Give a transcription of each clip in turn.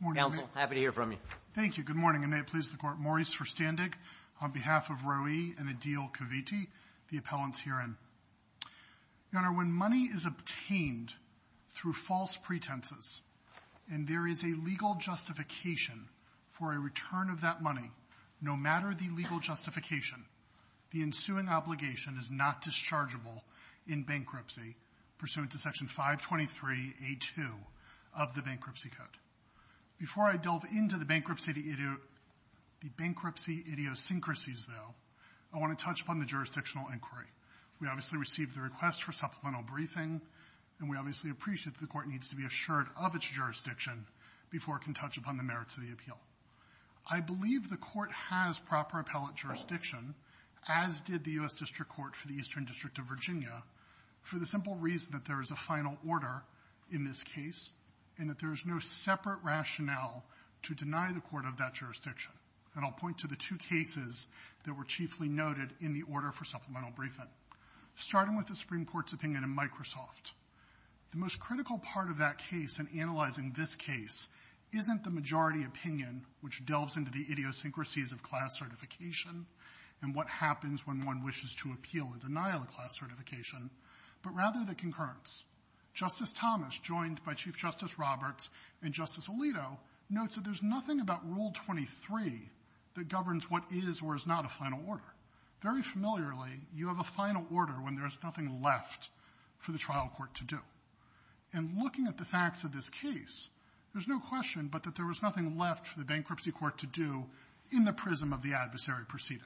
Maurice Verstandig, on behalf of Roee and Adil Kiviti, the appellants herein. Your Honor, when money is obtained through false pretenses and there is a legal justification for a return of that money, no matter the legal justification, the ensuing obligation is not dischargeable in bankruptcy pursuant to Section 523A2 of the Bankruptcy Code. Before I delve into the bankruptcy idiosyncrasies, though, I want to touch upon the jurisdictional inquiry. We obviously received the request for supplemental briefing, and we obviously appreciate that the Court needs to be assured of its jurisdiction before it can touch upon the merits of the appeal. I believe the Court has proper appellate jurisdiction, as did the U.S. District Court for the Eastern District of Virginia, for the simple reason that there is a final order in this case and that there is no separate rationale to deny the Court of that jurisdiction. And I'll point to the two cases that were chiefly noted in the order for supplemental briefing, starting with the Supreme Court's opinion in Microsoft. The most critical part of that case in analyzing this case isn't the majority opinion, which delves into the idiosyncrasies of class certification and what happens when one wishes to appeal a denial of class certification, but rather the concurrence. Justice Thomas, joined by Chief Justice Roberts and Justice Alito, notes that there's nothing about Rule 23 that governs what is or is not a final order. Very familiarly, you have a final order when there's nothing left for the trial court to do. And looking at the facts of this case, there's no question but that there was nothing left for the bankruptcy court to do in the prism of the adversary proceeding.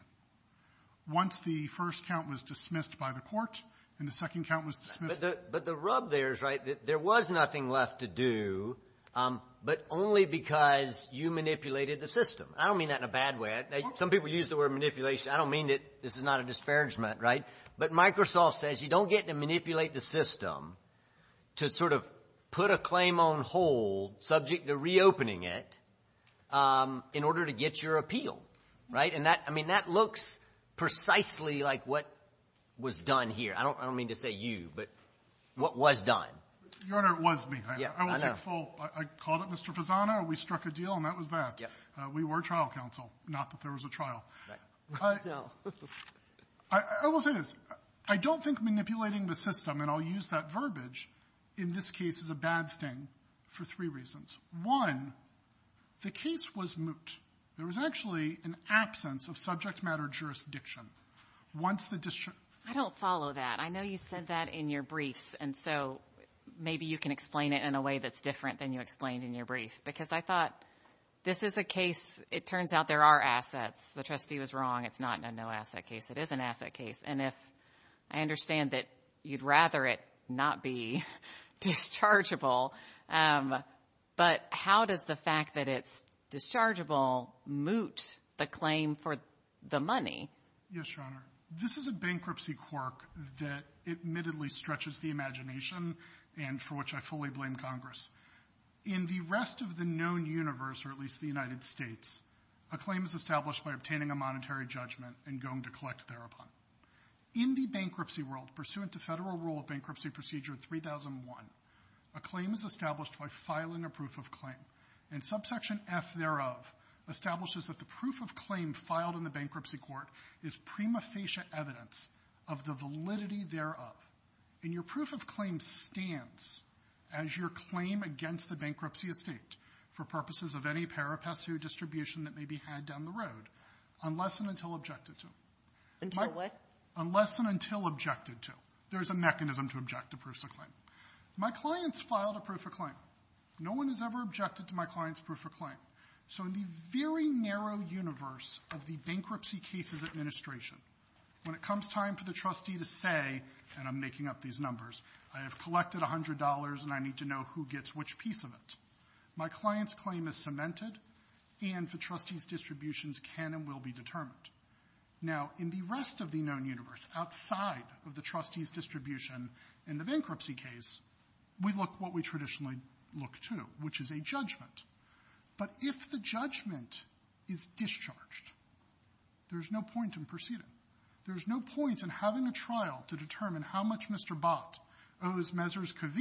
Once the first count was dismissed by the court and the second count was dismissed by the court. But the rub there is right. There was nothing left to do, but only because you manipulated the system. I don't mean that in a bad way. Some people use the word manipulation. I don't mean that this is not a disparagement, right? But Microsoft says you don't get to manipulate the system to sort of put a claim on hold subject to reopening it in order to get your appeal, right? And that – I mean, that looks precisely like what was done here. I don't mean to say you, but what was done. Your Honor, it was me. I will take full – I called it Mr. Fasano, we struck a deal, and that was that. We were trial counsel, not that there was a trial. I will say this. I don't think manipulating the system, and I'll use that verbiage, in this case is a bad thing for three reasons. One, the case was moot. There was actually an absence of subject matter jurisdiction. Once the district – I don't follow that. I know you said that in your briefs, and so maybe you can explain it in a way that's different than you explained in your brief, because I thought this is a case – it was wrong. It's not a no-asset case. It is an asset case. And if – I understand that you'd rather it not be dischargeable, but how does the fact that it's dischargeable moot the claim for the money? Yes, Your Honor. This is a bankruptcy quirk that admittedly stretches the imagination and for which I fully blame Congress. In the rest of the known universe, or at least the United States, a claim is established by obtaining a monetary judgment and going to collect thereupon. In the bankruptcy world, pursuant to Federal Rule of Bankruptcy Procedure 3001, a claim is established by filing a proof of claim, and subsection F thereof establishes that the proof of claim filed in the bankruptcy court is prima facie evidence of the validity thereof. And your proof of claim stands as your claim against the bankruptcy estate for purposes of any peripatsu distribution that may be had down the road, unless and until objected to. Until what? Unless and until objected to. There's a mechanism to object to proofs of claim. My clients filed a proof of claim. No one has ever objected to my client's proof of claim. So in the very narrow universe of the Bankruptcy Cases Administration, when it comes time for the trustee to say, and I'm making up these numbers, I have collected $100, and I need to know who gets which piece of it, my client's claim is simply cemented, and the trustee's distributions can and will be determined. Now, in the rest of the known universe, outside of the trustee's distribution in the bankruptcy case, we look what we traditionally look to, which is a judgment. But if the judgment is discharged, there's no point in proceeding. There's no point in having a trial to determine how much Mr. Bott owes Mezzers that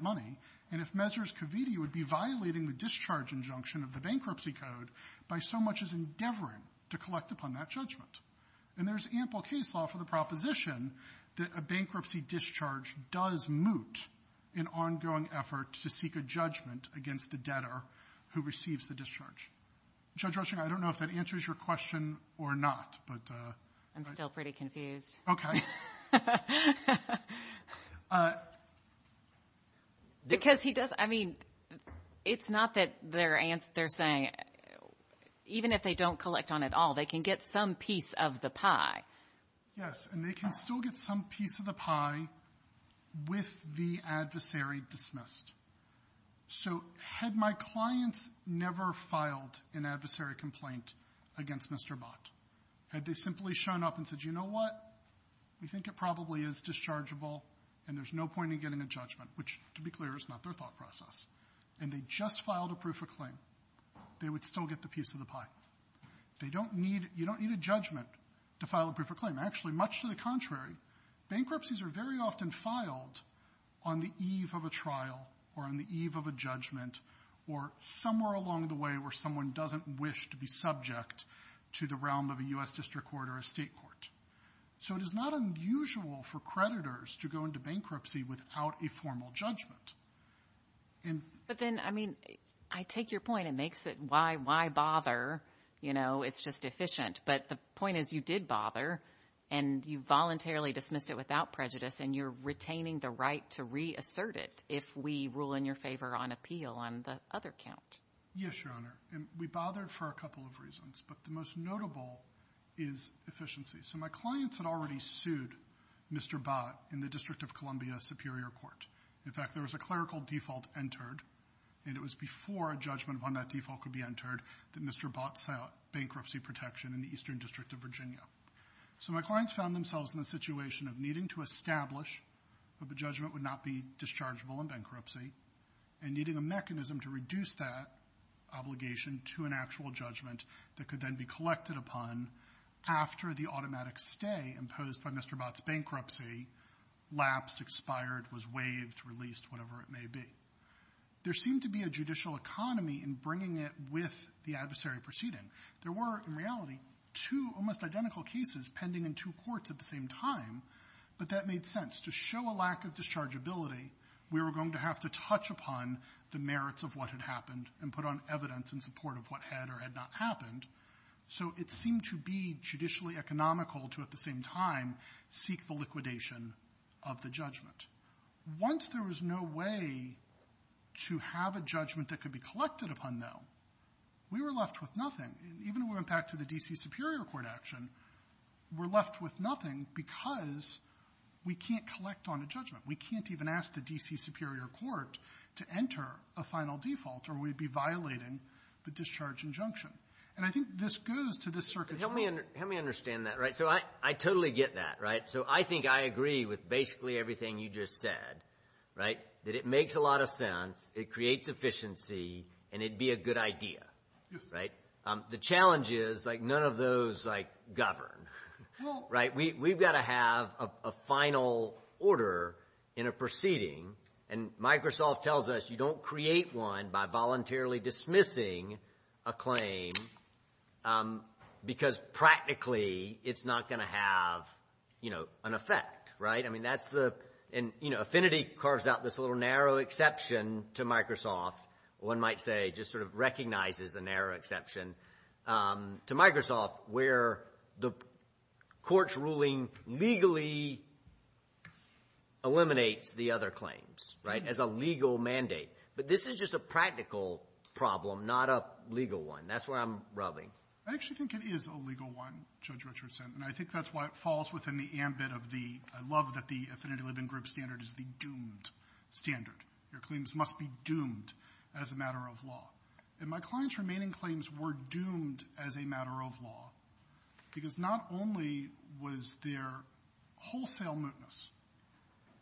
money, and if Mezzers-Covitti would be violating the discharge injunction of the bankruptcy code by so much as endeavoring to collect upon that judgment. And there's ample case law for the proposition that a bankruptcy discharge does moot an ongoing effort to seek a judgment against the debtor who receives the discharge. Judge Rushing, I don't know if that answers your question or not, but... I'm still pretty confused. Okay. Because he does, I mean, it's not that they're saying, even if they don't collect on it all, they can get some piece of the pie. Yes, and they can still get some piece of the pie with the adversary dismissed. So had my clients never filed an adversary complaint against Mr. Bott, had they simply shown up and said, you know what, we think it probably is dischargeable and there's no point in getting a judgment, which, to be clear, is not their thought process, and they just filed a proof of claim, they would still get the piece of the pie. They don't need to, you don't need a judgment to file a proof of claim. Actually, much to the contrary, bankruptcies are very often filed on the eve of a trial or on the eve of a judgment or somewhere along the way where someone doesn't wish to be subject to the realm of a U.S. district court or a state court. So it is not unusual for creditors to go into bankruptcy without a formal judgment. But then, I mean, I take your point. It makes it, why bother? You know, it's just efficient. But the point is, you did bother and you voluntarily dismissed it without prejudice and you're retaining the right to reassert it if we rule in your favor on appeal on the other count. Yes, Your Honor. And we bothered for a couple of reasons, but the most notable is efficiency. So my clients had already sued Mr. Bott in the District of Columbia Superior Court. In fact, there was a clerical default entered, and it was before a judgment upon that default could be entered that Mr. Bott sought bankruptcy protection in the Eastern District of Virginia. So my clients found themselves in the situation of needing to establish that the judgment would not be dischargeable in bankruptcy and needing a mechanism to reduce that obligation to an actual judgment that could then be collected upon after the automatic stay imposed by Mr. Bott's bankruptcy lapsed, expired, was waived, released, whatever it may be. There seemed to be a judicial economy in bringing it with the adversary proceeding. There were, in reality, two almost identical cases pending in two courts at the same time, but that made sense. To show a lack of dischargeability, we were going to have to touch upon the merits of what had happened and put on evidence in support of what had or had not happened. So it seemed to be judicially economical to, at the same time, seek the liquidation of the judgment. Once there was no way to have a judgment that could be collected upon, though, we were left with nothing. Even when we went back to the D.C. Superior Court action, we're left with nothing because we can't collect on a judgment. We can't even ask the D.C. Superior Court to enter a final default or we'd be violating the discharge injunction. And I think this goes to this circuit's core. Let me understand that. Right? So I totally get that. Right? So I think I agree with basically everything you just said, right, that it makes a lot of sense, it creates efficiency, and it'd be a good idea. Yes. Right? The challenge is, like, none of those, like, govern. Right? We've got to have a final order in a proceeding. And Microsoft tells us you don't create one by voluntarily dismissing a claim because practically it's not going to have, you know, an effect. Right? I mean, that's the... And, you know, Affinity carves out this little narrow exception to Microsoft. One might say just sort of recognizes a narrow exception to Microsoft where the court's ruling legally eliminates the other claims. Right? As a legal mandate. But this is just a practical problem, not a legal one. That's where I'm rubbing. I actually think it is a legal one, Judge Richardson, and I think that's why it falls within the ambit of the, I love that the Affinity Living Group standard is the doomed standard. Your claims must be doomed as a matter of law. And my client's remaining claims were doomed as a matter of law because not only was there wholesale mootness,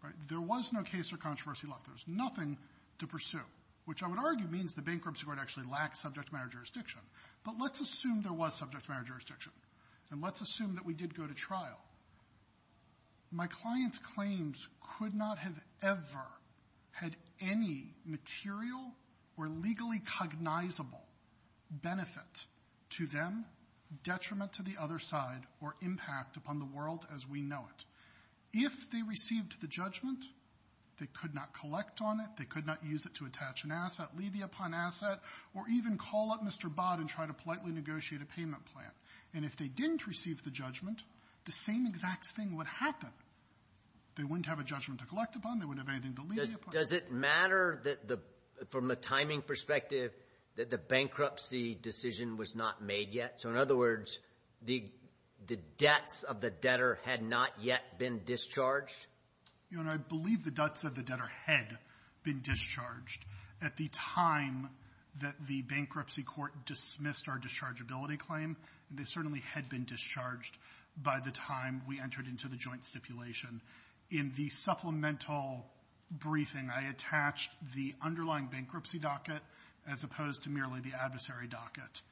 right? There was no case or controversy left. There was nothing to pursue. Which I would argue means the bankruptcy court actually lacked subject matter jurisdiction. But let's assume there was subject matter jurisdiction. And let's assume that we did go to trial. Now, my client's claims could not have ever had any material or legally cognizable benefit to them, detriment to the other side, or impact upon the world as we know it. If they received the judgment, they could not collect on it, they could not use it to attach an asset, leave it upon asset, or even call up Mr. Bott and try to politely negotiate a payment plan. And if they didn't receive the judgment, the same exact thing would happen. They wouldn't have a judgment to collect upon, they wouldn't have anything to leave it upon. Does it matter that the, from a timing perspective, that the bankruptcy decision was not made yet? So in other words, the debts of the debtor had not yet been discharged? Your Honor, I believe the debts of the debtor had been discharged at the time that the bankruptcy court dismissed our dischargeability claim, and they certainly had been discharged by the time we entered into the joint stipulation. In the supplemental briefing, I attached the underlying bankruptcy docket as opposed to merely the adversary docket,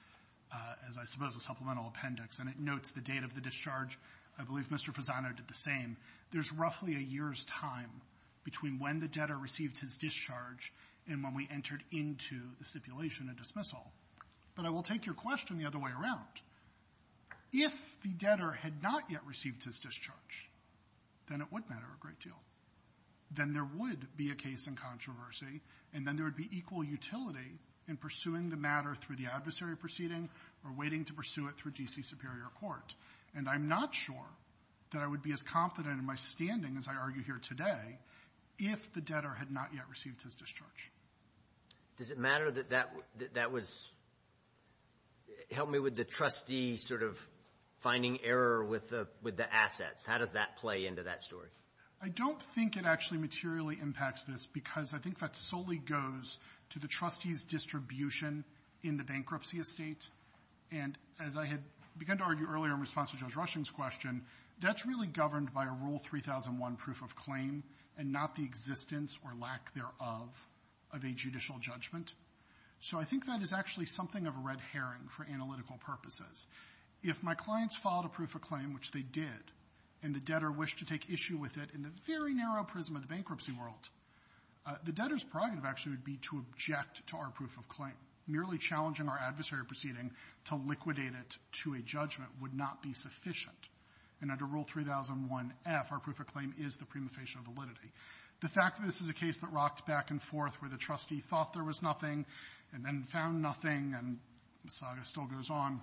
as I suppose a supplemental appendix, and it notes the date of the discharge. I believe Mr. Fasano did the same. There's roughly a year's time between when the debtor received his discharge and when we entered into the stipulation and dismissal. But I will take your question the other way around. If the debtor had not yet received his discharge, then it would matter a great deal. Then there would be a case in controversy, and then there would be equal utility in pursuing the matter through the adversary proceeding or waiting to pursue it through G.C. Superior Court. And I'm not sure that I would be as confident in my standing as I argue here today if the Does it matter that that was – help me with the trustee sort of finding error with the assets. How does that play into that story? I don't think it actually materially impacts this, because I think that solely goes to the trustee's distribution in the bankruptcy estate. And as I had begun to argue earlier in response to Judge Rushing's question, that's really So I think that is actually something of a red herring for analytical purposes. If my clients filed a proof of claim, which they did, and the debtor wished to take issue with it in the very narrow prism of the bankruptcy world, the debtor's prerogative actually would be to object to our proof of claim. Merely challenging our adversary proceeding to liquidate it to a judgment would not be sufficient. And under Rule 3001F, our proof of claim is the prima facie validity. The fact that this is a case that rocked back and forth where the trustee thought there was nothing and then found nothing, and the saga still goes on,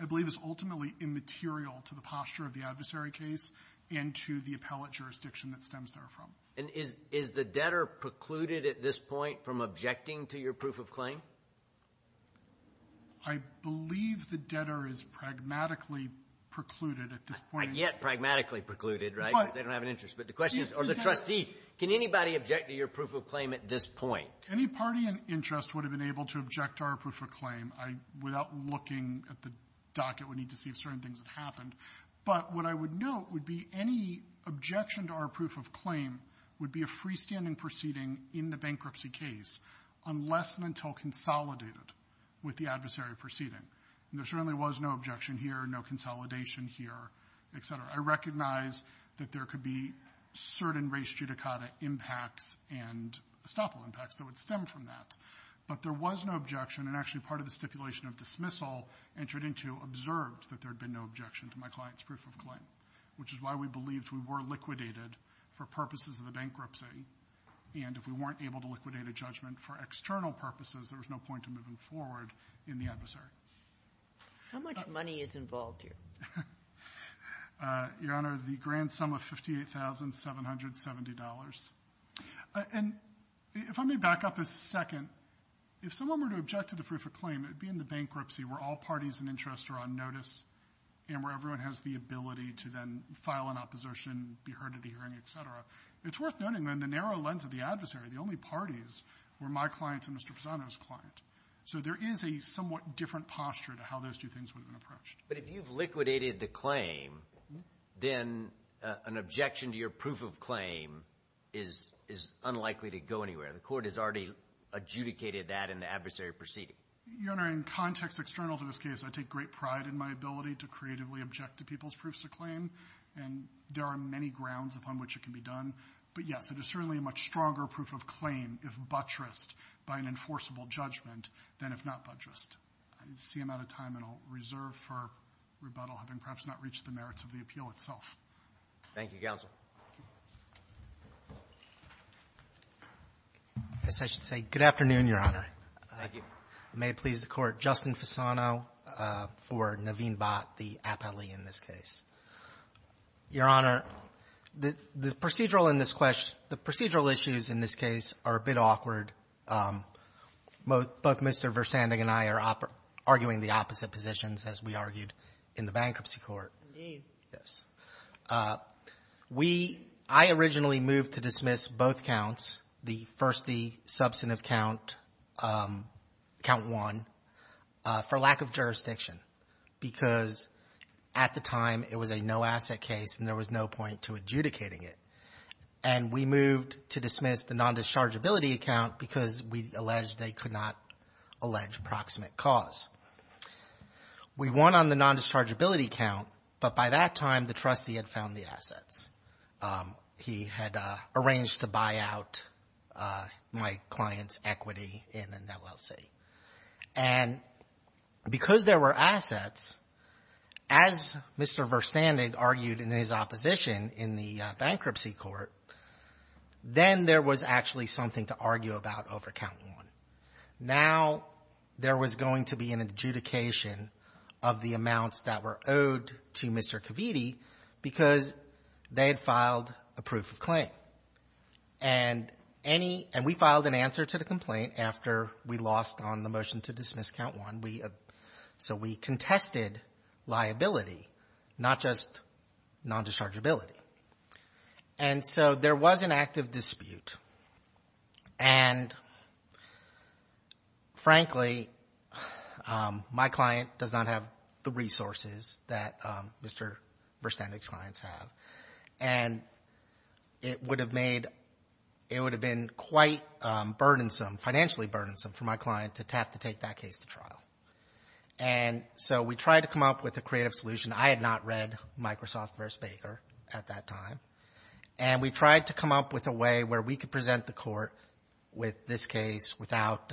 I believe is ultimately immaterial to the posture of the adversary case and to the appellate jurisdiction that stems therefrom. And is the debtor precluded at this point from objecting to your proof of claim? I believe the debtor is pragmatically precluded at this point. Yet pragmatically precluded, right? They don't have an interest. But the question is, or the trustee, can anybody object to your proof of claim at this point? Any party in interest would have been able to object to our proof of claim without looking at the docket. We need to see if certain things have happened. But what I would note would be any objection to our proof of claim would be a freestanding proceeding in the bankruptcy case, unless and until consolidated with the adversary proceeding. And there certainly was no objection here, no consolidation here, et cetera. I recognize that there could be certain res judicata impacts and estoppel impacts that would stem from that. But there was no objection, and actually part of the stipulation of dismissal entered into observed that there had been no objection to my client's proof of claim, which is why we believed we were liquidated for purposes of the bankruptcy. And if we weren't able to liquidate a judgment for external purposes, there was no point of moving forward in the adversary. How much money is involved here? Your Honor, the grand sum of $58,770. And if I may back up a second, if someone were to object to the proof of claim, it would be in the bankruptcy where all parties in interest are on notice and where everyone has the ability to then file an opposition, be heard at a hearing, et cetera. It's worth noting, though, in the narrow lens of the adversary, the only parties were my client and Mr. Pisano's client. So there is a somewhat different posture to how those two things would have been approached. But if you've liquidated the claim, then an objection to your proof of claim is unlikely to go anywhere. The court has already adjudicated that in the adversary proceeding. Your Honor, in context external to this case, I take great pride in my ability to creatively object to people's proofs of claim. And there are many grounds upon which it can be done. But yes, it is certainly a much stronger proof of claim if buttressed by an enforceable judgment than if not buttressed. I see I'm out of time, and I'll reserve for rebuttal, having perhaps not reached the merits of the appeal itself. Thank you, Counsel. Yes, I should say, good afternoon, Your Honor. Thank you. May it please the Court. Justin Pisano for Naveen Bhatt, the appellee in this case. Your Honor, the procedural in this question, the procedural issues in this case are a bit awkward. Both Mr. Versanding and I are arguing the opposite positions, as we argued in the bankruptcy court. Indeed. Yes. We — I originally moved to dismiss both counts, the first, the substantive count, count one, for lack of jurisdiction, because at the time, it was a no-asset case, and there was no point to adjudicating it. And we moved to dismiss the non-dischargeability account because we alleged they could not allege proximate cause. We won on the non-dischargeability count, but by that time, the trustee had found the assets. He had arranged to buy out my client's equity in an LLC. And because there were assets, as Mr. Versanding argued in his opposition in the bankruptcy court, then there was actually something to argue about over count one. Now, there was going to be an adjudication of the amounts that were owed to Mr. Caviti because they had filed a proof of claim. And any — and we filed an answer to the complaint after we lost on the motion to dismiss count one. So we contested liability, not just non-dischargeability. And so there was an active dispute, and frankly, my client does not have the resources that Mr. Versanding's clients have. And it would have made — it would have been quite burdensome, financially burdensome, for my client to have to take that case to trial. And so we tried to come up with a creative solution. I had not read Microsoft v. Baker at that time. And we tried to come up with a way where we could present the court with this case without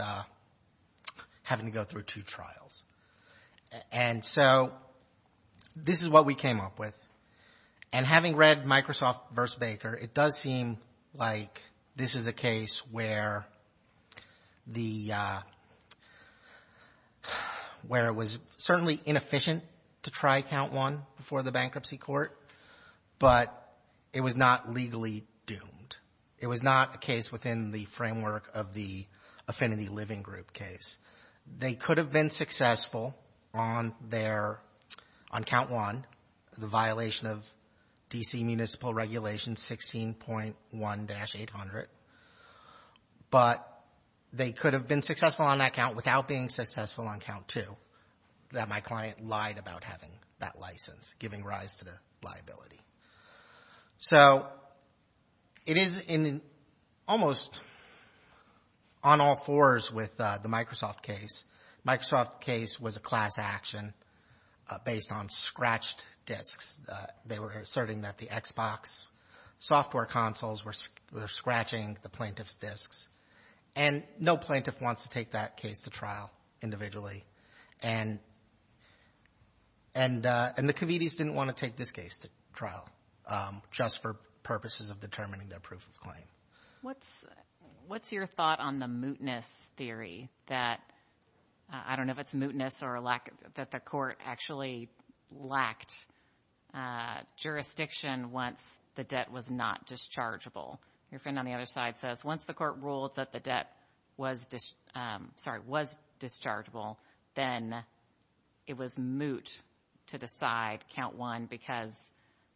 having to go through two trials. And so this is what we came up with. And having read Microsoft v. Baker, it does seem like this is a case where the — where it was certainly inefficient to try count one before the bankruptcy court, but it was not legally doomed. It was not a case within the framework of the Affinity Living Group case. They could have been successful on their — on count one, the violation of D.C. municipal regulation 16.1-800. But they could have been successful on that count without being successful on count two, that my client lied about having that license, giving rise to the liability. So it is in almost on all fours with the Microsoft case. Microsoft case was a class action based on scratched disks. They were asserting that the Xbox software consoles were scratching the plaintiff's disks. And no plaintiff wants to take that case to trial individually. And the Covetes didn't want to take this case to trial just for purposes of determining their proof of claim. What's your thought on the mootness theory that — I don't know if it's mootness or lack — that the court actually lacked jurisdiction once the debt was not dischargeable. Your friend on the other side says once the court ruled that the debt was — sorry, was dischargeable, then it was moot to decide count one because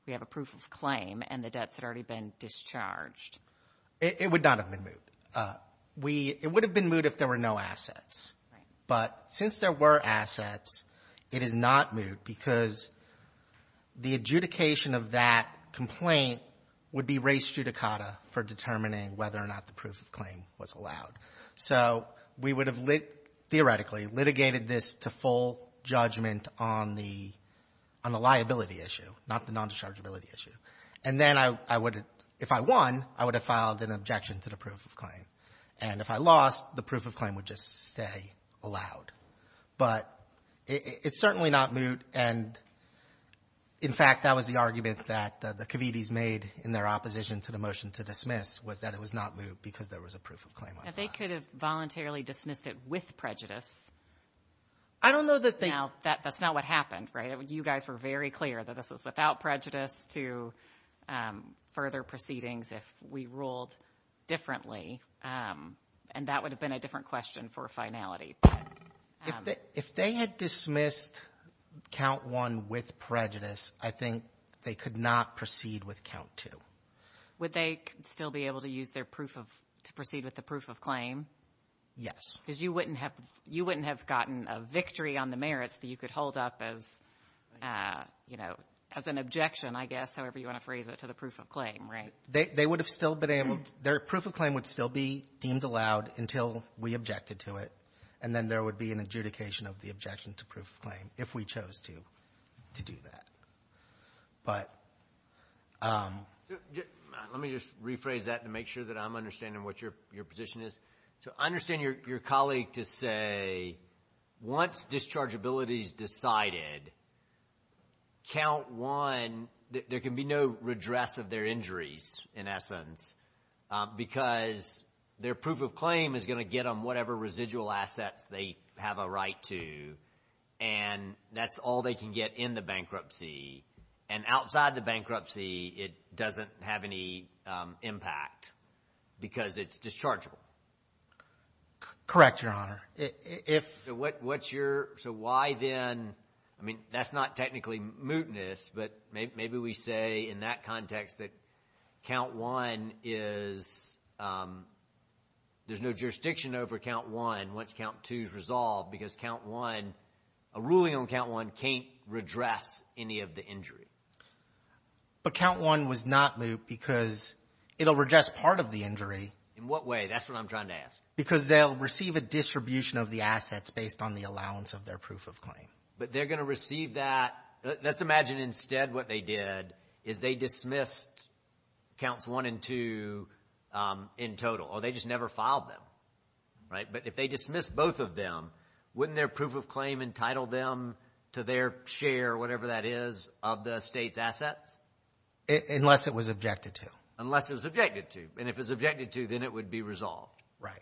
we have a proof of claim and the debts had already been discharged. It would not have been moot. It would have been moot if there were no assets. But since there were assets, it is not moot because the adjudication of that complaint would be res judicata for determining whether or not the proof of claim was allowed. So we would have, theoretically, litigated this to full judgment on the liability issue, not the non-dischargeability issue. And then I would have — if I won, I would have filed an objection to the proof of claim. And if I lost, the proof of claim would just stay allowed. But it's certainly not moot. And in fact, that was the argument that the Covetes made in their opposition to the motion to dismiss was that it was not moot because there was a proof of claim on that. Now, they could have voluntarily dismissed it with prejudice. I don't know that they — Now, that's not what happened, right? You guys were very clear that this was without prejudice to further proceedings if we ruled differently. And that would have been a different question for finality. If they had dismissed count one with prejudice, I think they could not proceed with count two. Would they still be able to use their proof of — to proceed with the proof of claim? Yes. Because you wouldn't have — you wouldn't have gotten a victory on the merits that you could hold up as, you know, as an objection, I guess, however you want to phrase it, to the proof of claim, right? They would have still been able — their proof of claim would still be deemed allowed until we objected to it, and then there would be an adjudication of the objection to proof of claim if we chose to do that. But — Let me just rephrase that to make sure that I'm understanding what your position is. So I understand your colleague to say once dischargeability is decided, count one — there can be no redress of their injuries, in essence, because their proof of claim is going to get them whatever residual assets they have a right to, and that's all they can get in the bankruptcy. And outside the bankruptcy, it doesn't have any impact because it's dischargeable. Correct, Your Honor. If — So what's your — so why then — I mean, that's not technically mootness, but maybe we say in that context that count one is — there's no jurisdiction over count one once count two is resolved because count one — a ruling on count one can't redress any of the injury. But count one was not moot because it'll redress part of the injury. In what way? That's what I'm trying to ask. Because they'll receive a distribution of the assets based on the allowance of their proof of claim. But they're going to receive that — let's imagine instead what they did is they dismissed counts one and two in total, or they just never filed them, right? But if they dismissed both of them, wouldn't their proof of claim entitle them to their share, whatever that is, of the state's assets? Unless it was objected to. Unless it was objected to. And if it was objected to, then it would be resolved. Right.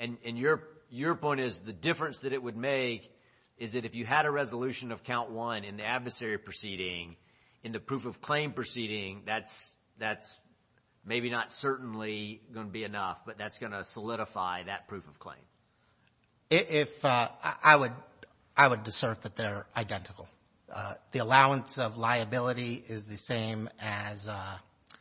And your point is the difference that it would make is that if you had a resolution of count one in the adversary proceeding, in the proof of claim proceeding, that's maybe not certainly going to be enough, but that's going to solidify that proof of claim. If — I would — I would assert that they're identical. The allowance of liability is the same as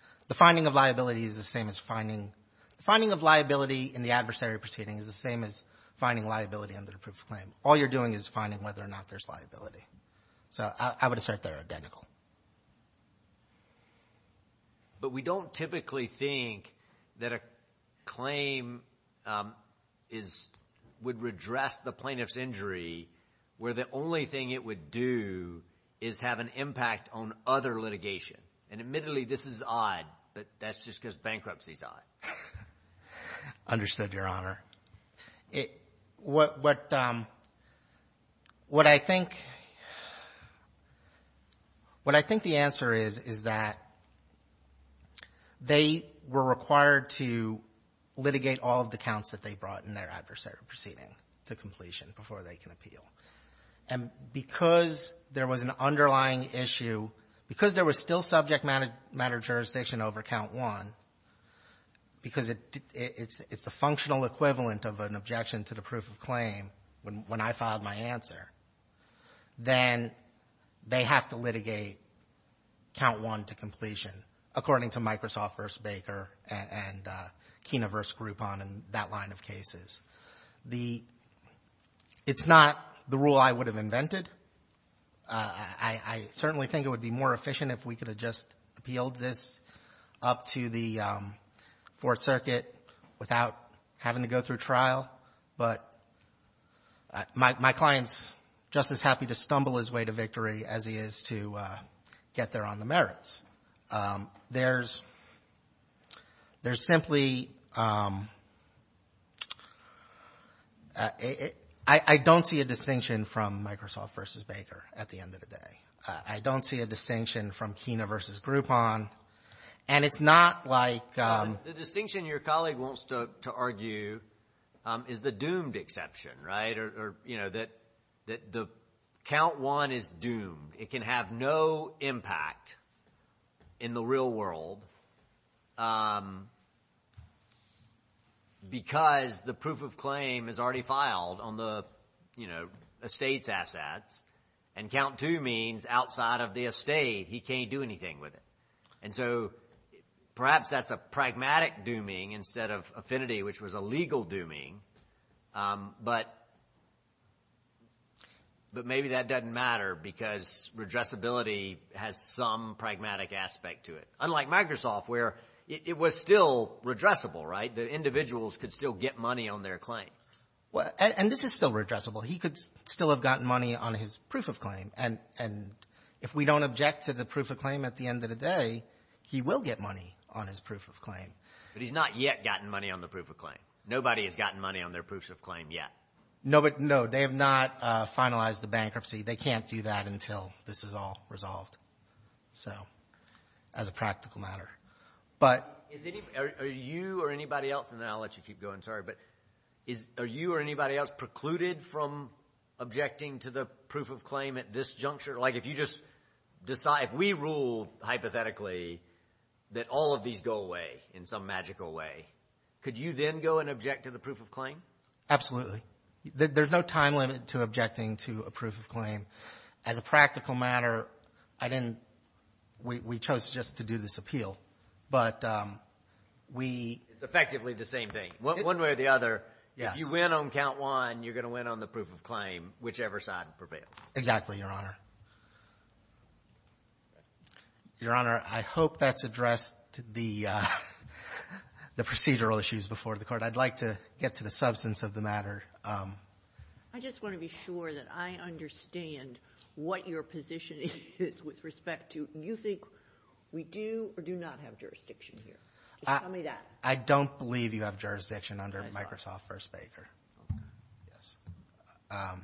— the finding of liability is the same as finding — the finding of liability in the adversary proceeding is the same as finding liability under the proof of claim. All you're doing is finding whether or not there's liability. So I would assert they're identical. But we don't typically think that a claim is — would redress the plaintiff's injury where the only thing it would do is have an impact on other litigation. And admittedly, this is odd, but that's just because bankruptcy is odd. Understood, Your Honor. It — what — what I think — what I think the answer is, is that they were required to litigate all of the counts that they brought in their adversary proceeding to completion before they can appeal. And because there was an underlying issue, because there was still subject matter jurisdiction over count one, because it's the functional equivalent of an objection to the proof of claim when I filed my answer, then they have to litigate count one to completion, according to Microsoft v. Baker and Kena v. Groupon and that line of cases. The — it's not the rule I would have invented. I certainly think it would be more efficient if we could have just appealed this up to the Fourth Circuit without having to go through trial. But my client's just as happy to stumble his way to victory as he is to get there on the merits. There's — there's simply — I don't see a distinction from Microsoft v. Baker at the end of the day. I don't see a distinction from Kena v. Groupon. And it's not like — The distinction your colleague wants to argue is the doomed exception, right? It can have no impact in the real world because the proof of claim is already filed on the, you know, estate's assets. And count two means outside of the estate, he can't do anything with it. And so perhaps that's a pragmatic dooming instead of affinity, which was a legal dooming. But maybe that doesn't matter because redressability has some pragmatic aspect to it. Unlike Microsoft where it was still redressable, right? The individuals could still get money on their claims. And this is still redressable. He could still have gotten money on his proof of claim. And if we don't object to the proof of claim at the end of the day, he will get money on his proof of claim. But he's not yet gotten money on the proof of claim. Nobody has gotten money on their proof of claim yet. No, they have not finalized the bankruptcy. They can't do that until this is all resolved, so, as a practical matter. But are you or anybody else — and then I'll let you keep going, sorry. But are you or anybody else precluded from objecting to the proof of claim at this juncture? Like if you just — if we rule hypothetically that all of these go away in some magical way, could you then go and object to the proof of claim? Absolutely. There's no time limit to objecting to a proof of claim. As a practical matter, I didn't — we chose just to do this appeal. But we — It's effectively the same thing. One way or the other, if you win on count one, you're going to win on the proof of claim, whichever side prevails. Exactly, Your Honor. Your Honor, I hope that's addressed the procedural issues before the Court. I'd like to get to the substance of the matter. I just want to be sure that I understand what your position is with respect to — you think we do or do not have jurisdiction here. Just tell me that. I don't believe you have jurisdiction under Microsoft v. Baker. Okay. Yes.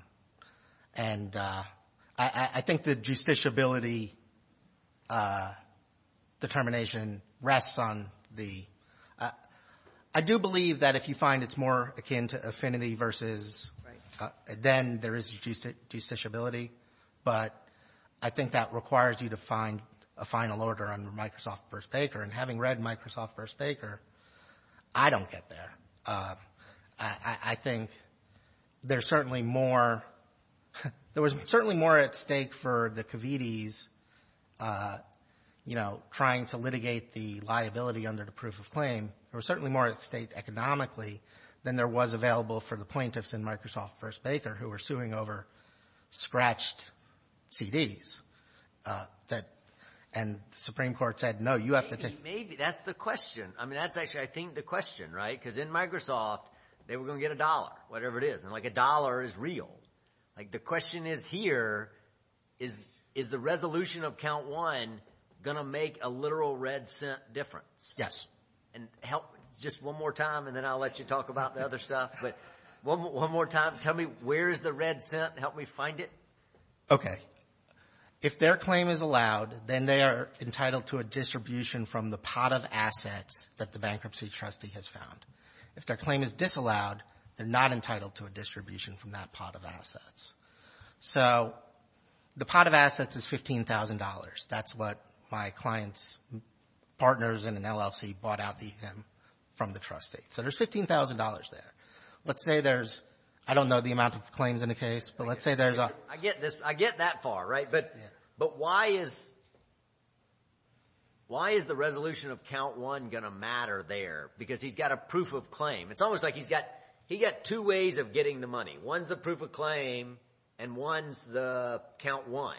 And I think the justiciability determination rests on the — I do believe that if you find it's more akin to affinity versus — Right. — then there is justiciability. But I think that requires you to find a final order under Microsoft v. Baker. And having read Microsoft v. Baker, I don't get there. I think there's certainly more — there was certainly more at stake for the Covites, you know, trying to litigate the liability under the proof of claim. There was certainly more at stake economically than there was available for the plaintiffs in Microsoft v. Baker who were suing over scratched CDs. And the Supreme Court said, no, you have to take — Maybe. That's the question. I mean, that's actually, I think, the question, right? Because in Microsoft, they were going to get a dollar, whatever it is. And, like, a dollar is real. Like, the question is here, is the resolution of count one going to make a literal red cent difference? Yes. And help — just one more time, and then I'll let you talk about the other stuff. But one more time, tell me, where is the red cent? Help me find it. Okay. So if their claim is allowed, then they are entitled to a distribution from the pot of assets that the bankruptcy trustee has found. If their claim is disallowed, they're not entitled to a distribution from that pot of assets. So the pot of assets is $15,000. That's what my client's partners in an LLC bought out from the trustee. So there's $15,000 there. Let's say there's — I don't know the amount of claims in the case, but let's say there's a — I get this. I get that far, right? But why is the resolution of count one going to matter there? Because he's got a proof of claim. It's almost like he's got two ways of getting the money. One's the proof of claim, and one's the count one.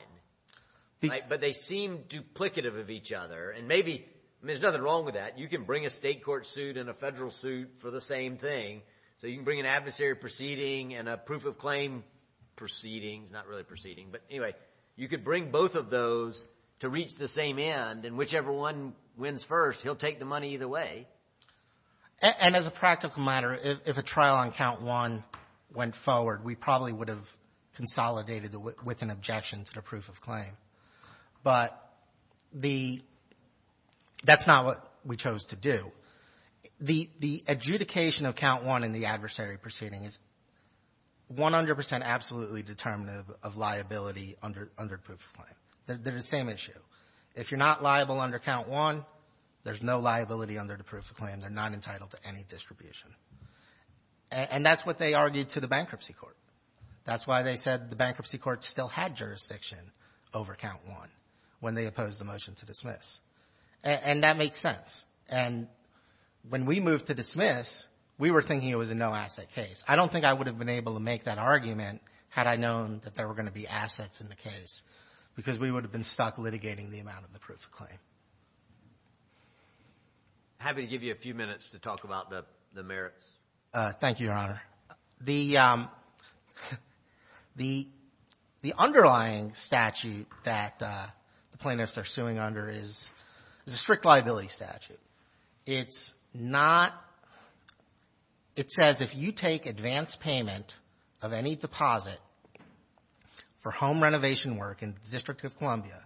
But they seem duplicative of each other. And maybe — I mean, there's nothing wrong with that. You can bring a state court suit and a federal suit for the same thing. So you can bring an adversary proceeding and a proof of claim proceeding. It's not really a proceeding. But anyway, you could bring both of those to reach the same end. And whichever one wins first, he'll take the money either way. And as a practical matter, if a trial on count one went forward, we probably would have consolidated with an objection to the proof of claim. But the — that's not what we chose to do. The — the adjudication of count one in the adversary proceeding is 100 percent absolutely determinative of liability under — under proof of claim. They're the same issue. If you're not liable under count one, there's no liability under the proof of claim. They're not entitled to any distribution. And that's what they argued to the bankruptcy court. That's why they said the bankruptcy court still had jurisdiction over count one when they opposed the motion to dismiss. And that makes sense. And when we moved to dismiss, we were thinking it was a no-asset case. I don't think I would have been able to make that argument had I known that there were going to be assets in the case because we would have been stuck litigating the amount of the proof of claim. I'm happy to give you a few minutes to talk about the — the merits. Thank you, Your Honor. The — the underlying statute that the plaintiffs are suing under is a strict liability statute. It's not — it says if you take advance payment of any deposit for home renovation work in the District of Columbia,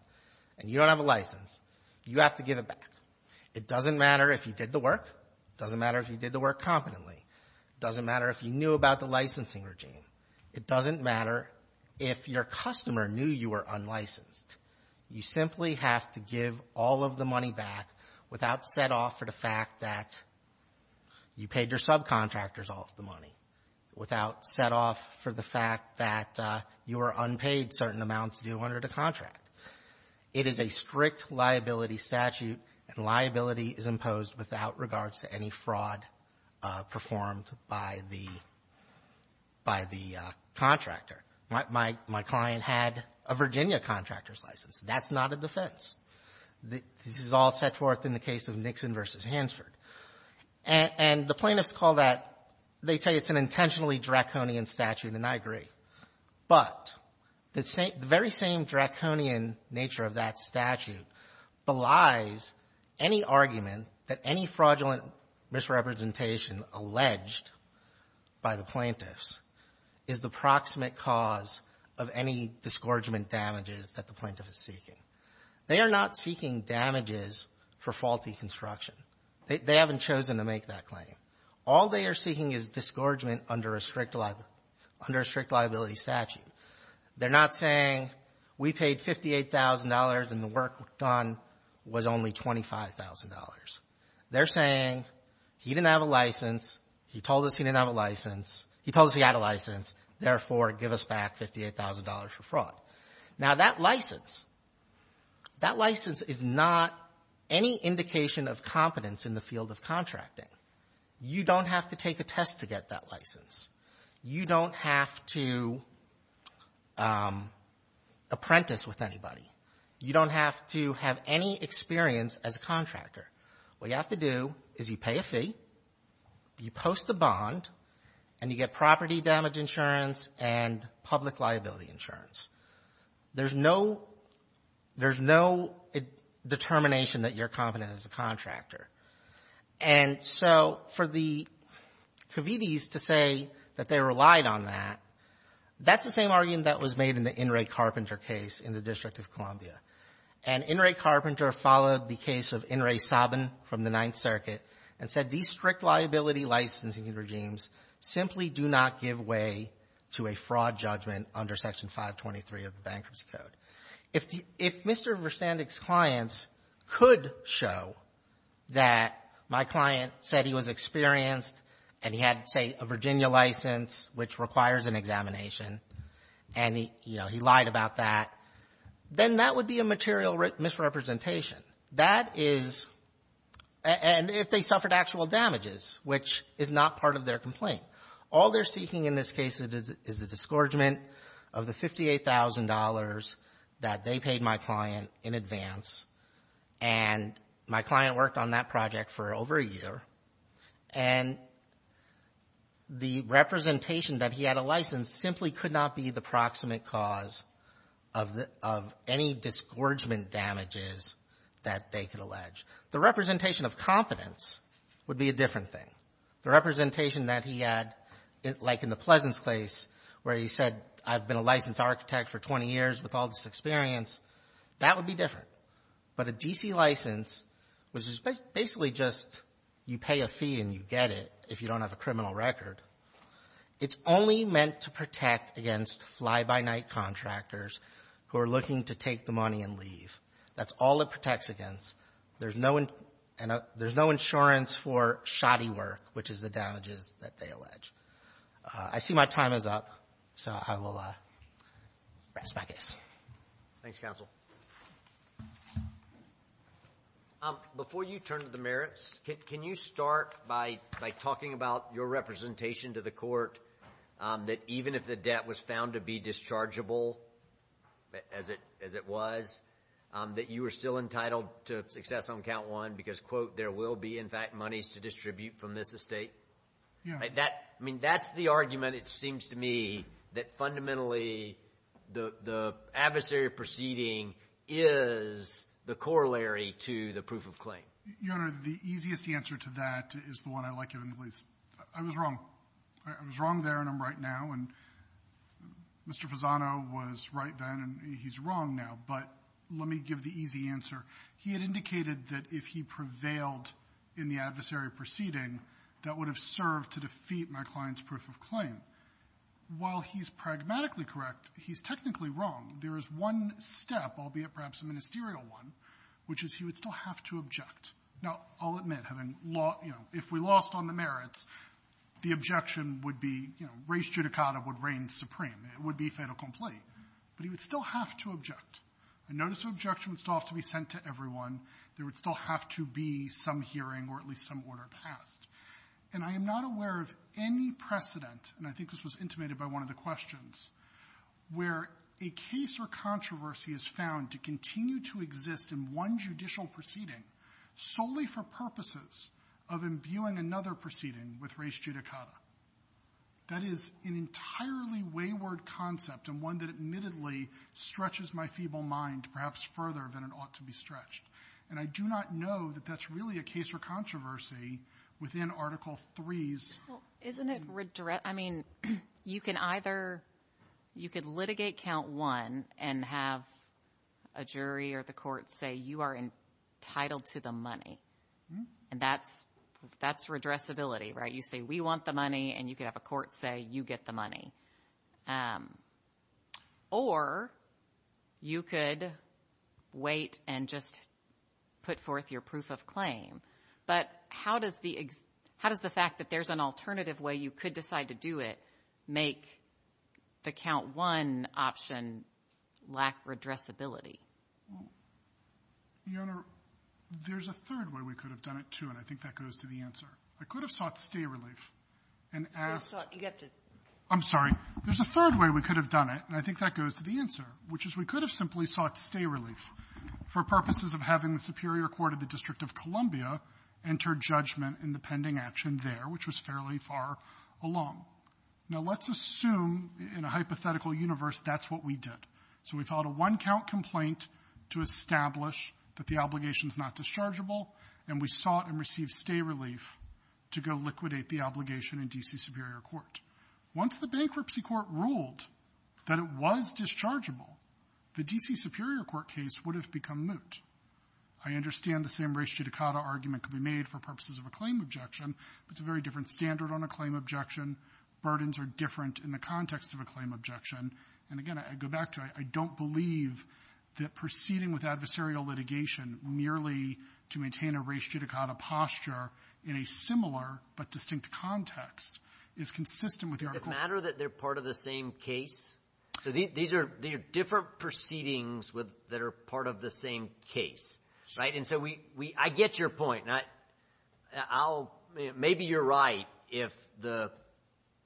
and you don't have a license, you have to give it back. It doesn't matter if you did the work. It doesn't matter if you did the work competently. It doesn't matter if you knew about the licensing regime. It doesn't matter if your customer knew you were unlicensed. You simply have to give all of the money back without set-off for the fact that you paid your subcontractors all of the money, without set-off for the fact that you were unpaid certain amounts due under the contract. It is a strict liability statute, and liability is imposed without regards to any fraud performed by the — by the contractor. My — my client had a Virginia contractor's license. That's not a defense. This is all set forth in the case of Nixon v. Hansford. And the plaintiffs call that — they say it's an intentionally draconian statute, and I agree. But the very same draconian nature of that statute belies any argument that any fraudulent misrepresentation alleged by the plaintiffs is the proximate cause of any disgorgement damages that the plaintiff is seeking. They are not seeking damages for faulty construction. They haven't chosen to make that claim. All they are seeking is disgorgement under a strict — under a strict liability statute. They're not saying we paid $58,000 and the work done was only $25,000. They're saying he didn't have a license. He told us he didn't have a license. He told us he had a license. Therefore, give us back $58,000 for fraud. Now, that license — that license is not any indication of competence in the field of contracting. You don't have to take a test to get that license. You don't have to apprentice with anybody. You don't have to have any experience as a contractor. What you have to do is you pay a fee, you post the bond, and you get property damage insurance and public liability insurance. There's no — there's no determination that you're competent as a contractor. And so for the Cavites to say that they relied on that, that's the same argument that was made in the In re Carpenter case in the District of Columbia. And In re Carpenter followed the case of In re Saban from the Ninth Circuit and said these strict liability licensing regimes simply do not give way to a fraud judgment under Section 523 of the Bankruptcy Code. If Mr. Verstandick's clients could show that my client said he was experienced and he had, say, a Virginia license which requires an examination and, you know, he lied about that, then that would be a material misrepresentation. That is — and if they suffered actual damages, which is not part of their complaint. All they're seeking in this case is the disgorgement of the $58,000 that they paid my client in advance, and my client worked on that project for over a year. And the representation that he had a license simply could not be the proximate cause of any disgorgement damages that they could allege. The representation of competence would be a different thing. The representation that he had, like in the Pleasance case where he said, I've been a licensed architect for 20 years with all this experience, that would be different. But a D.C. license, which is basically just you pay a fee and you get it if you don't have a criminal record, it's only meant to protect against fly-by-night contractors who are looking to take the money and leave. That's all it protects against. There's no — there's no insurance for shoddy work, which is the damages that they allege. I see my time is up, so I will rest my case. Thanks, counsel. Before you turn to the merits, can you start by talking about your representation to the court that even if the debt was found to be dischargeable, as it was, that you were still entitled to success on count one because, quote, there will be, in fact, monies to distribute from this estate? Yeah. That — I mean, that's the argument, it seems to me, that fundamentally the adversary proceeding is the corollary to the proof of claim. Your Honor, the easiest answer to that is the one I like in the least. I was wrong. I was wrong there and I'm right now. And Mr. Pisano was right then and he's wrong now. But let me give the easy answer. He had indicated that if he prevailed in the adversary proceeding, that would have served to defeat my client's proof of claim. While he's pragmatically correct, he's technically wrong. There is one step, albeit perhaps a ministerial one, which is he would still have to object. Now, I'll admit, having lost — you know, if we lost on the merits, the objection would be, you know, res judicata would reign supreme. It would be fait accompli. But he would still have to object. A notice of objection would still have to be sent to everyone. There would still have to be some hearing or at least some order passed. And I am not aware of any precedent, and I think this was intimated by one of the questions, where a case or controversy is found to continue to exist in one judicial proceeding solely for purposes of imbuing another proceeding with res judicata. That is an entirely wayward concept and one that admittedly stretches my feeble mind perhaps further than it ought to be stretched. And I do not know that that's really a case or controversy within Article 3's — Well, isn't it — I mean, you can either — you could litigate Count 1 and have a jury or the court say, you are entitled to the money. And that's redressability, right? You say, we want the money, and you could have a court say, you get the money. Or you could wait and just put forth your proof of claim. But how does the fact that there's an alternative way you could decide to do it make the Count 1 option lack redressability? Your Honor, there's a third way we could have done it, too, and I think that goes to the answer. I could have sought stay relief and asked — I'm sorry. There's a third way we could have done it, and I think that goes to the answer, which is we could have simply sought stay relief for purposes of having the Superior Court of the District of Columbia enter judgment in the pending action there, which was fairly far along. Now, let's assume in a hypothetical universe that's what we did. So we filed a one-count complaint to establish that the obligation is not dischargeable, and we sought and received stay relief to go liquidate the obligation in D.C. Superior Court. Once the bankruptcy court ruled that it was dischargeable, the D.C. Superior Court case would have become moot. I understand the same res judicata argument could be made for purposes of a claim objection, but it's a very different standard on a claim objection. Burdens are different in the context of a claim objection. And again, I go back to I don't believe that proceeding with adversarial litigation merely to maintain a res judicata posture in a similar but distinct context is consistent with the article. Is it a matter that they're part of the same case? So these are different proceedings that are part of the same case, right? And so we – I get your point. I'll – maybe you're right if the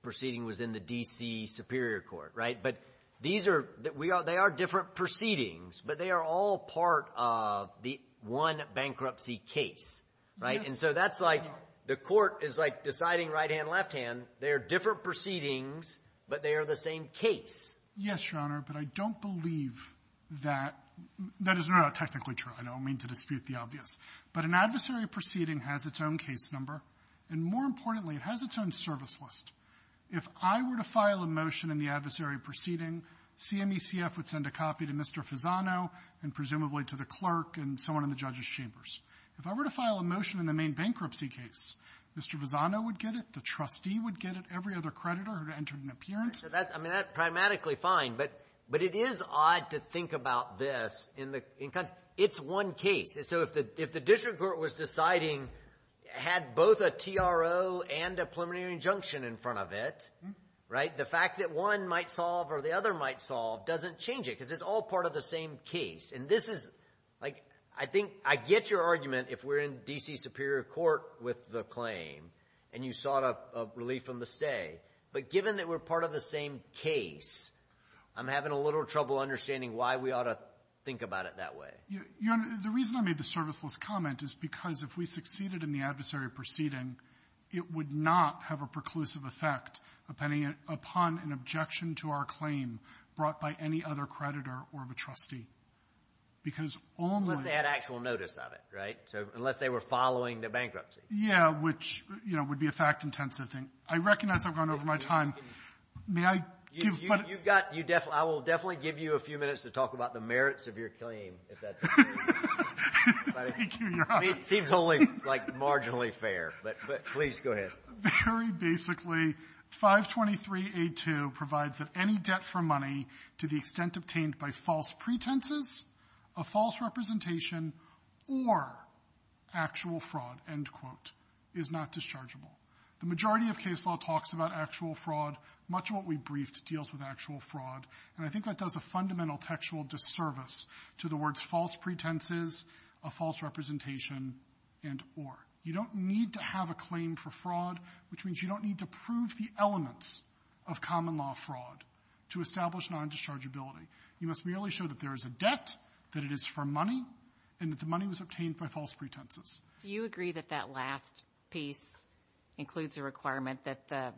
proceeding was in the D.C. Superior Court, right? But these are – they are different proceedings, but they are all part of the one bankruptcy case, right? And so that's like the court is, like, deciding right-hand, left-hand. They are different proceedings, but they are the same case. Yes, Your Honor, but I don't believe that – that is not technically true. I don't mean to dispute the obvious. But an adversary proceeding has its own case number, and more importantly, it has its own service list. If I were to file a motion in the adversary proceeding, CMECF would send a copy to Mr. Fisano and presumably to the clerk and someone in the judge's chambers. If I were to file a motion in the main bankruptcy case, Mr. Fisano would get it, the trustee would get it, every other creditor who had entered an appearance. So that's – I mean, that's pragmatically fine, but it is odd to think about this in the – it's one case. So if the district court was deciding – had both a TRO and a preliminary injunction in front of it, right, the fact that one might solve or the other might solve doesn't change it because it's all part of the same case. And this is – like, I think – I get your argument if we're in D.C. superior court with the claim and you sought a relief from the stay. But given that we're part of the same case, I'm having a little trouble understanding why we ought to think about it that way. Your Honor, the reason I made the service list comment is because if we succeeded in the adversary proceeding, it would not have a preclusive effect upon an objection to our claim brought by any other creditor or of a trustee because only – Unless they had actual notice of it, right? So unless they were following the bankruptcy. Yeah, which, you know, would be a fact-intensive thing. I recognize I've gone over my time. May I give – You've got – I will definitely give you a few minutes to talk about the merits of your claim, if that's okay. Thank you, Your Honor. It seems only, like, marginally fair. But please, go ahead. Very basically, 523a2 provides that any debt for money to the extent obtained by false pretenses, a false representation, or actual fraud, end quote, is not dischargeable. The majority of case law talks about actual fraud. Much of what we briefed deals with actual fraud. And I think that does a fundamental textual disservice to the words false pretenses, a false representation, and or. You don't need to have a claim for fraud, which means you don't need to prove the elements of common-law fraud to establish non-dischargeability. You must merely show that there is a debt, that it is for money, and that the money was obtained by false pretenses. Do you agree that that last piece includes a requirement that the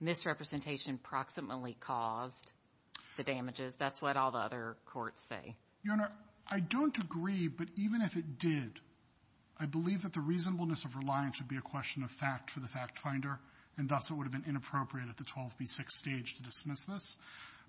misrepresentation proximately caused the damages? That's what all the other courts say. Your Honor, I don't agree, but even if it did, I believe that the reasonableness of reliance would be a question of fact for the fact-finder, and thus it would have been inappropriate at the 12b6 stage to dismiss this.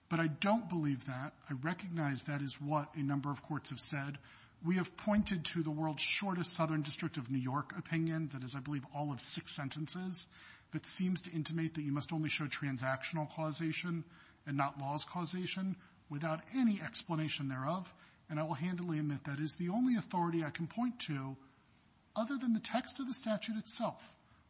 But I don't believe that. I recognize that is what a number of courts have said. We have pointed to the world's shortest Southern District of New York opinion that is, I believe, all of six sentences that seems to intimate that you must only show transactional causation and not laws causation without any explanation thereof, and I will handily admit that is the only authority I can point to, other than the text of the statute itself,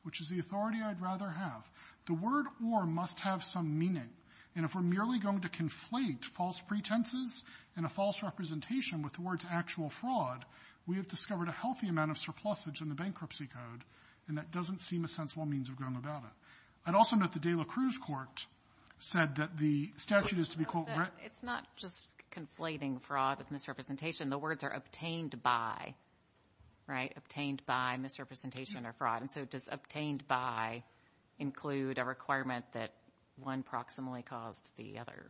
which is the authority I'd rather have. The word or must have some meaning, and if we're merely going to conflate false pretenses and a false representation with the word's actual fraud, we have discovered a healthy amount of surplusage in the Bankruptcy Code, and that doesn't seem a sensible means of going about it. I'd also note the De La Cruz Court said that the statute is to be, quote --" It's not just conflating fraud with misrepresentation. The words are obtained by, right? Obtained by, misrepresentation, or fraud. And so does obtained by include a requirement that one proximally caused the other?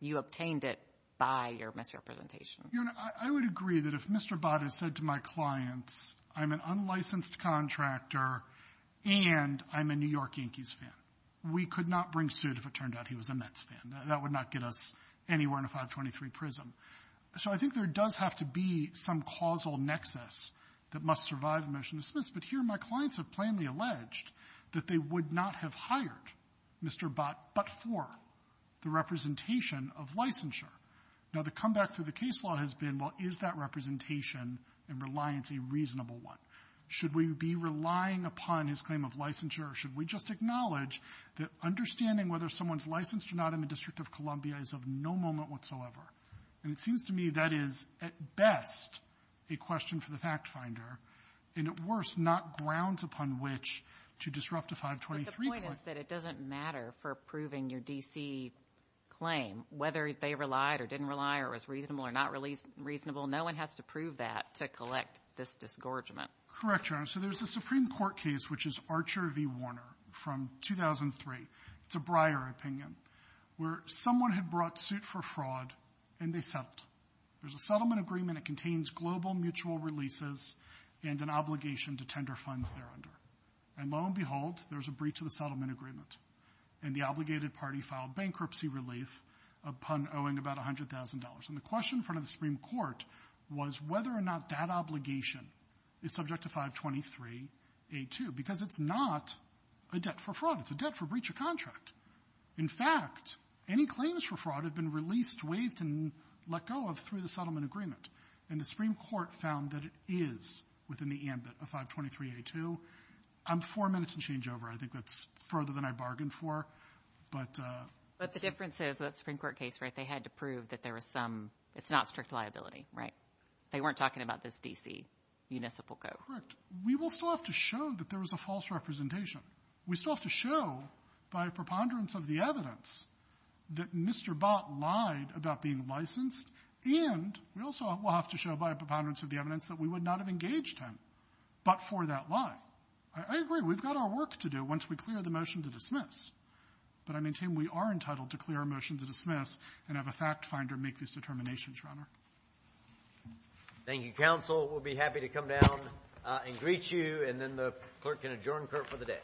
You obtained it by your misrepresentation. Your Honor, I would agree that if Mr. Bott has said to my clients, I'm an unlicensed contractor and I'm a New York Yankees fan, we could not bring suit if it turned out he was a Mets fan. That would not get us anywhere in a 523 prism. So I think there does have to be some causal nexus that must survive a motion to dismiss, but here my clients have plainly alleged that they would not have hired Mr. Bott but for the representation of licensure. Now, the comeback through the case law has been, well, is that representation and reliance a reasonable one? Should we be relying upon his claim of licensure or should we just acknowledge that understanding whether someone's licensed or not in the District of Columbia is of no moment whatsoever? And it seems to me that is at best a question for the factfinder and at worst not grounds upon which to disrupt a 523 claim. But the point is that it doesn't matter for proving your D.C. claim, whether they relied or didn't rely or was reasonable or not reasonable. No one has to prove that to collect this disgorgement. Correct, Your Honor. So there's a Supreme Court case which is Archer v. Warner from 2003. It's a Breyer opinion where someone had brought suit for fraud and they settled. There's a settlement agreement. It contains global mutual releases and an obligation to tender funds thereunder. And lo and behold, there's a breach of the settlement agreement, and the obligated party filed bankruptcy relief, a pun owing about $100,000. And the question in front of the Supreme Court was whether or not that obligation is subject to 523A2 because it's not a debt for fraud. It's a debt for breach of contract. In fact, any claims for fraud have been released, waived, and let go of through the settlement agreement. And the Supreme Court found that it is within the ambit of 523A2. I'm four minutes in changeover. I think that's further than I bargained for. But the difference is that Supreme Court case, right, they had to prove that there was some – it's not strict liability, right? They weren't talking about this D.C. municipal code. Correct. We will still have to show that there was a false representation. We still have to show by a preponderance of the evidence that Mr. Bott lied about being licensed, and we also will have to show by a preponderance of the evidence that we would not have engaged him but for that lie. I agree. We've got our work to do once we clear the motion to dismiss. But I maintain we are entitled to clear our motion to dismiss and have a fact finder make these determinations, Your Honor. Thank you, counsel. We'll be happy to come down and greet you, and then the clerk can adjourn court for the day.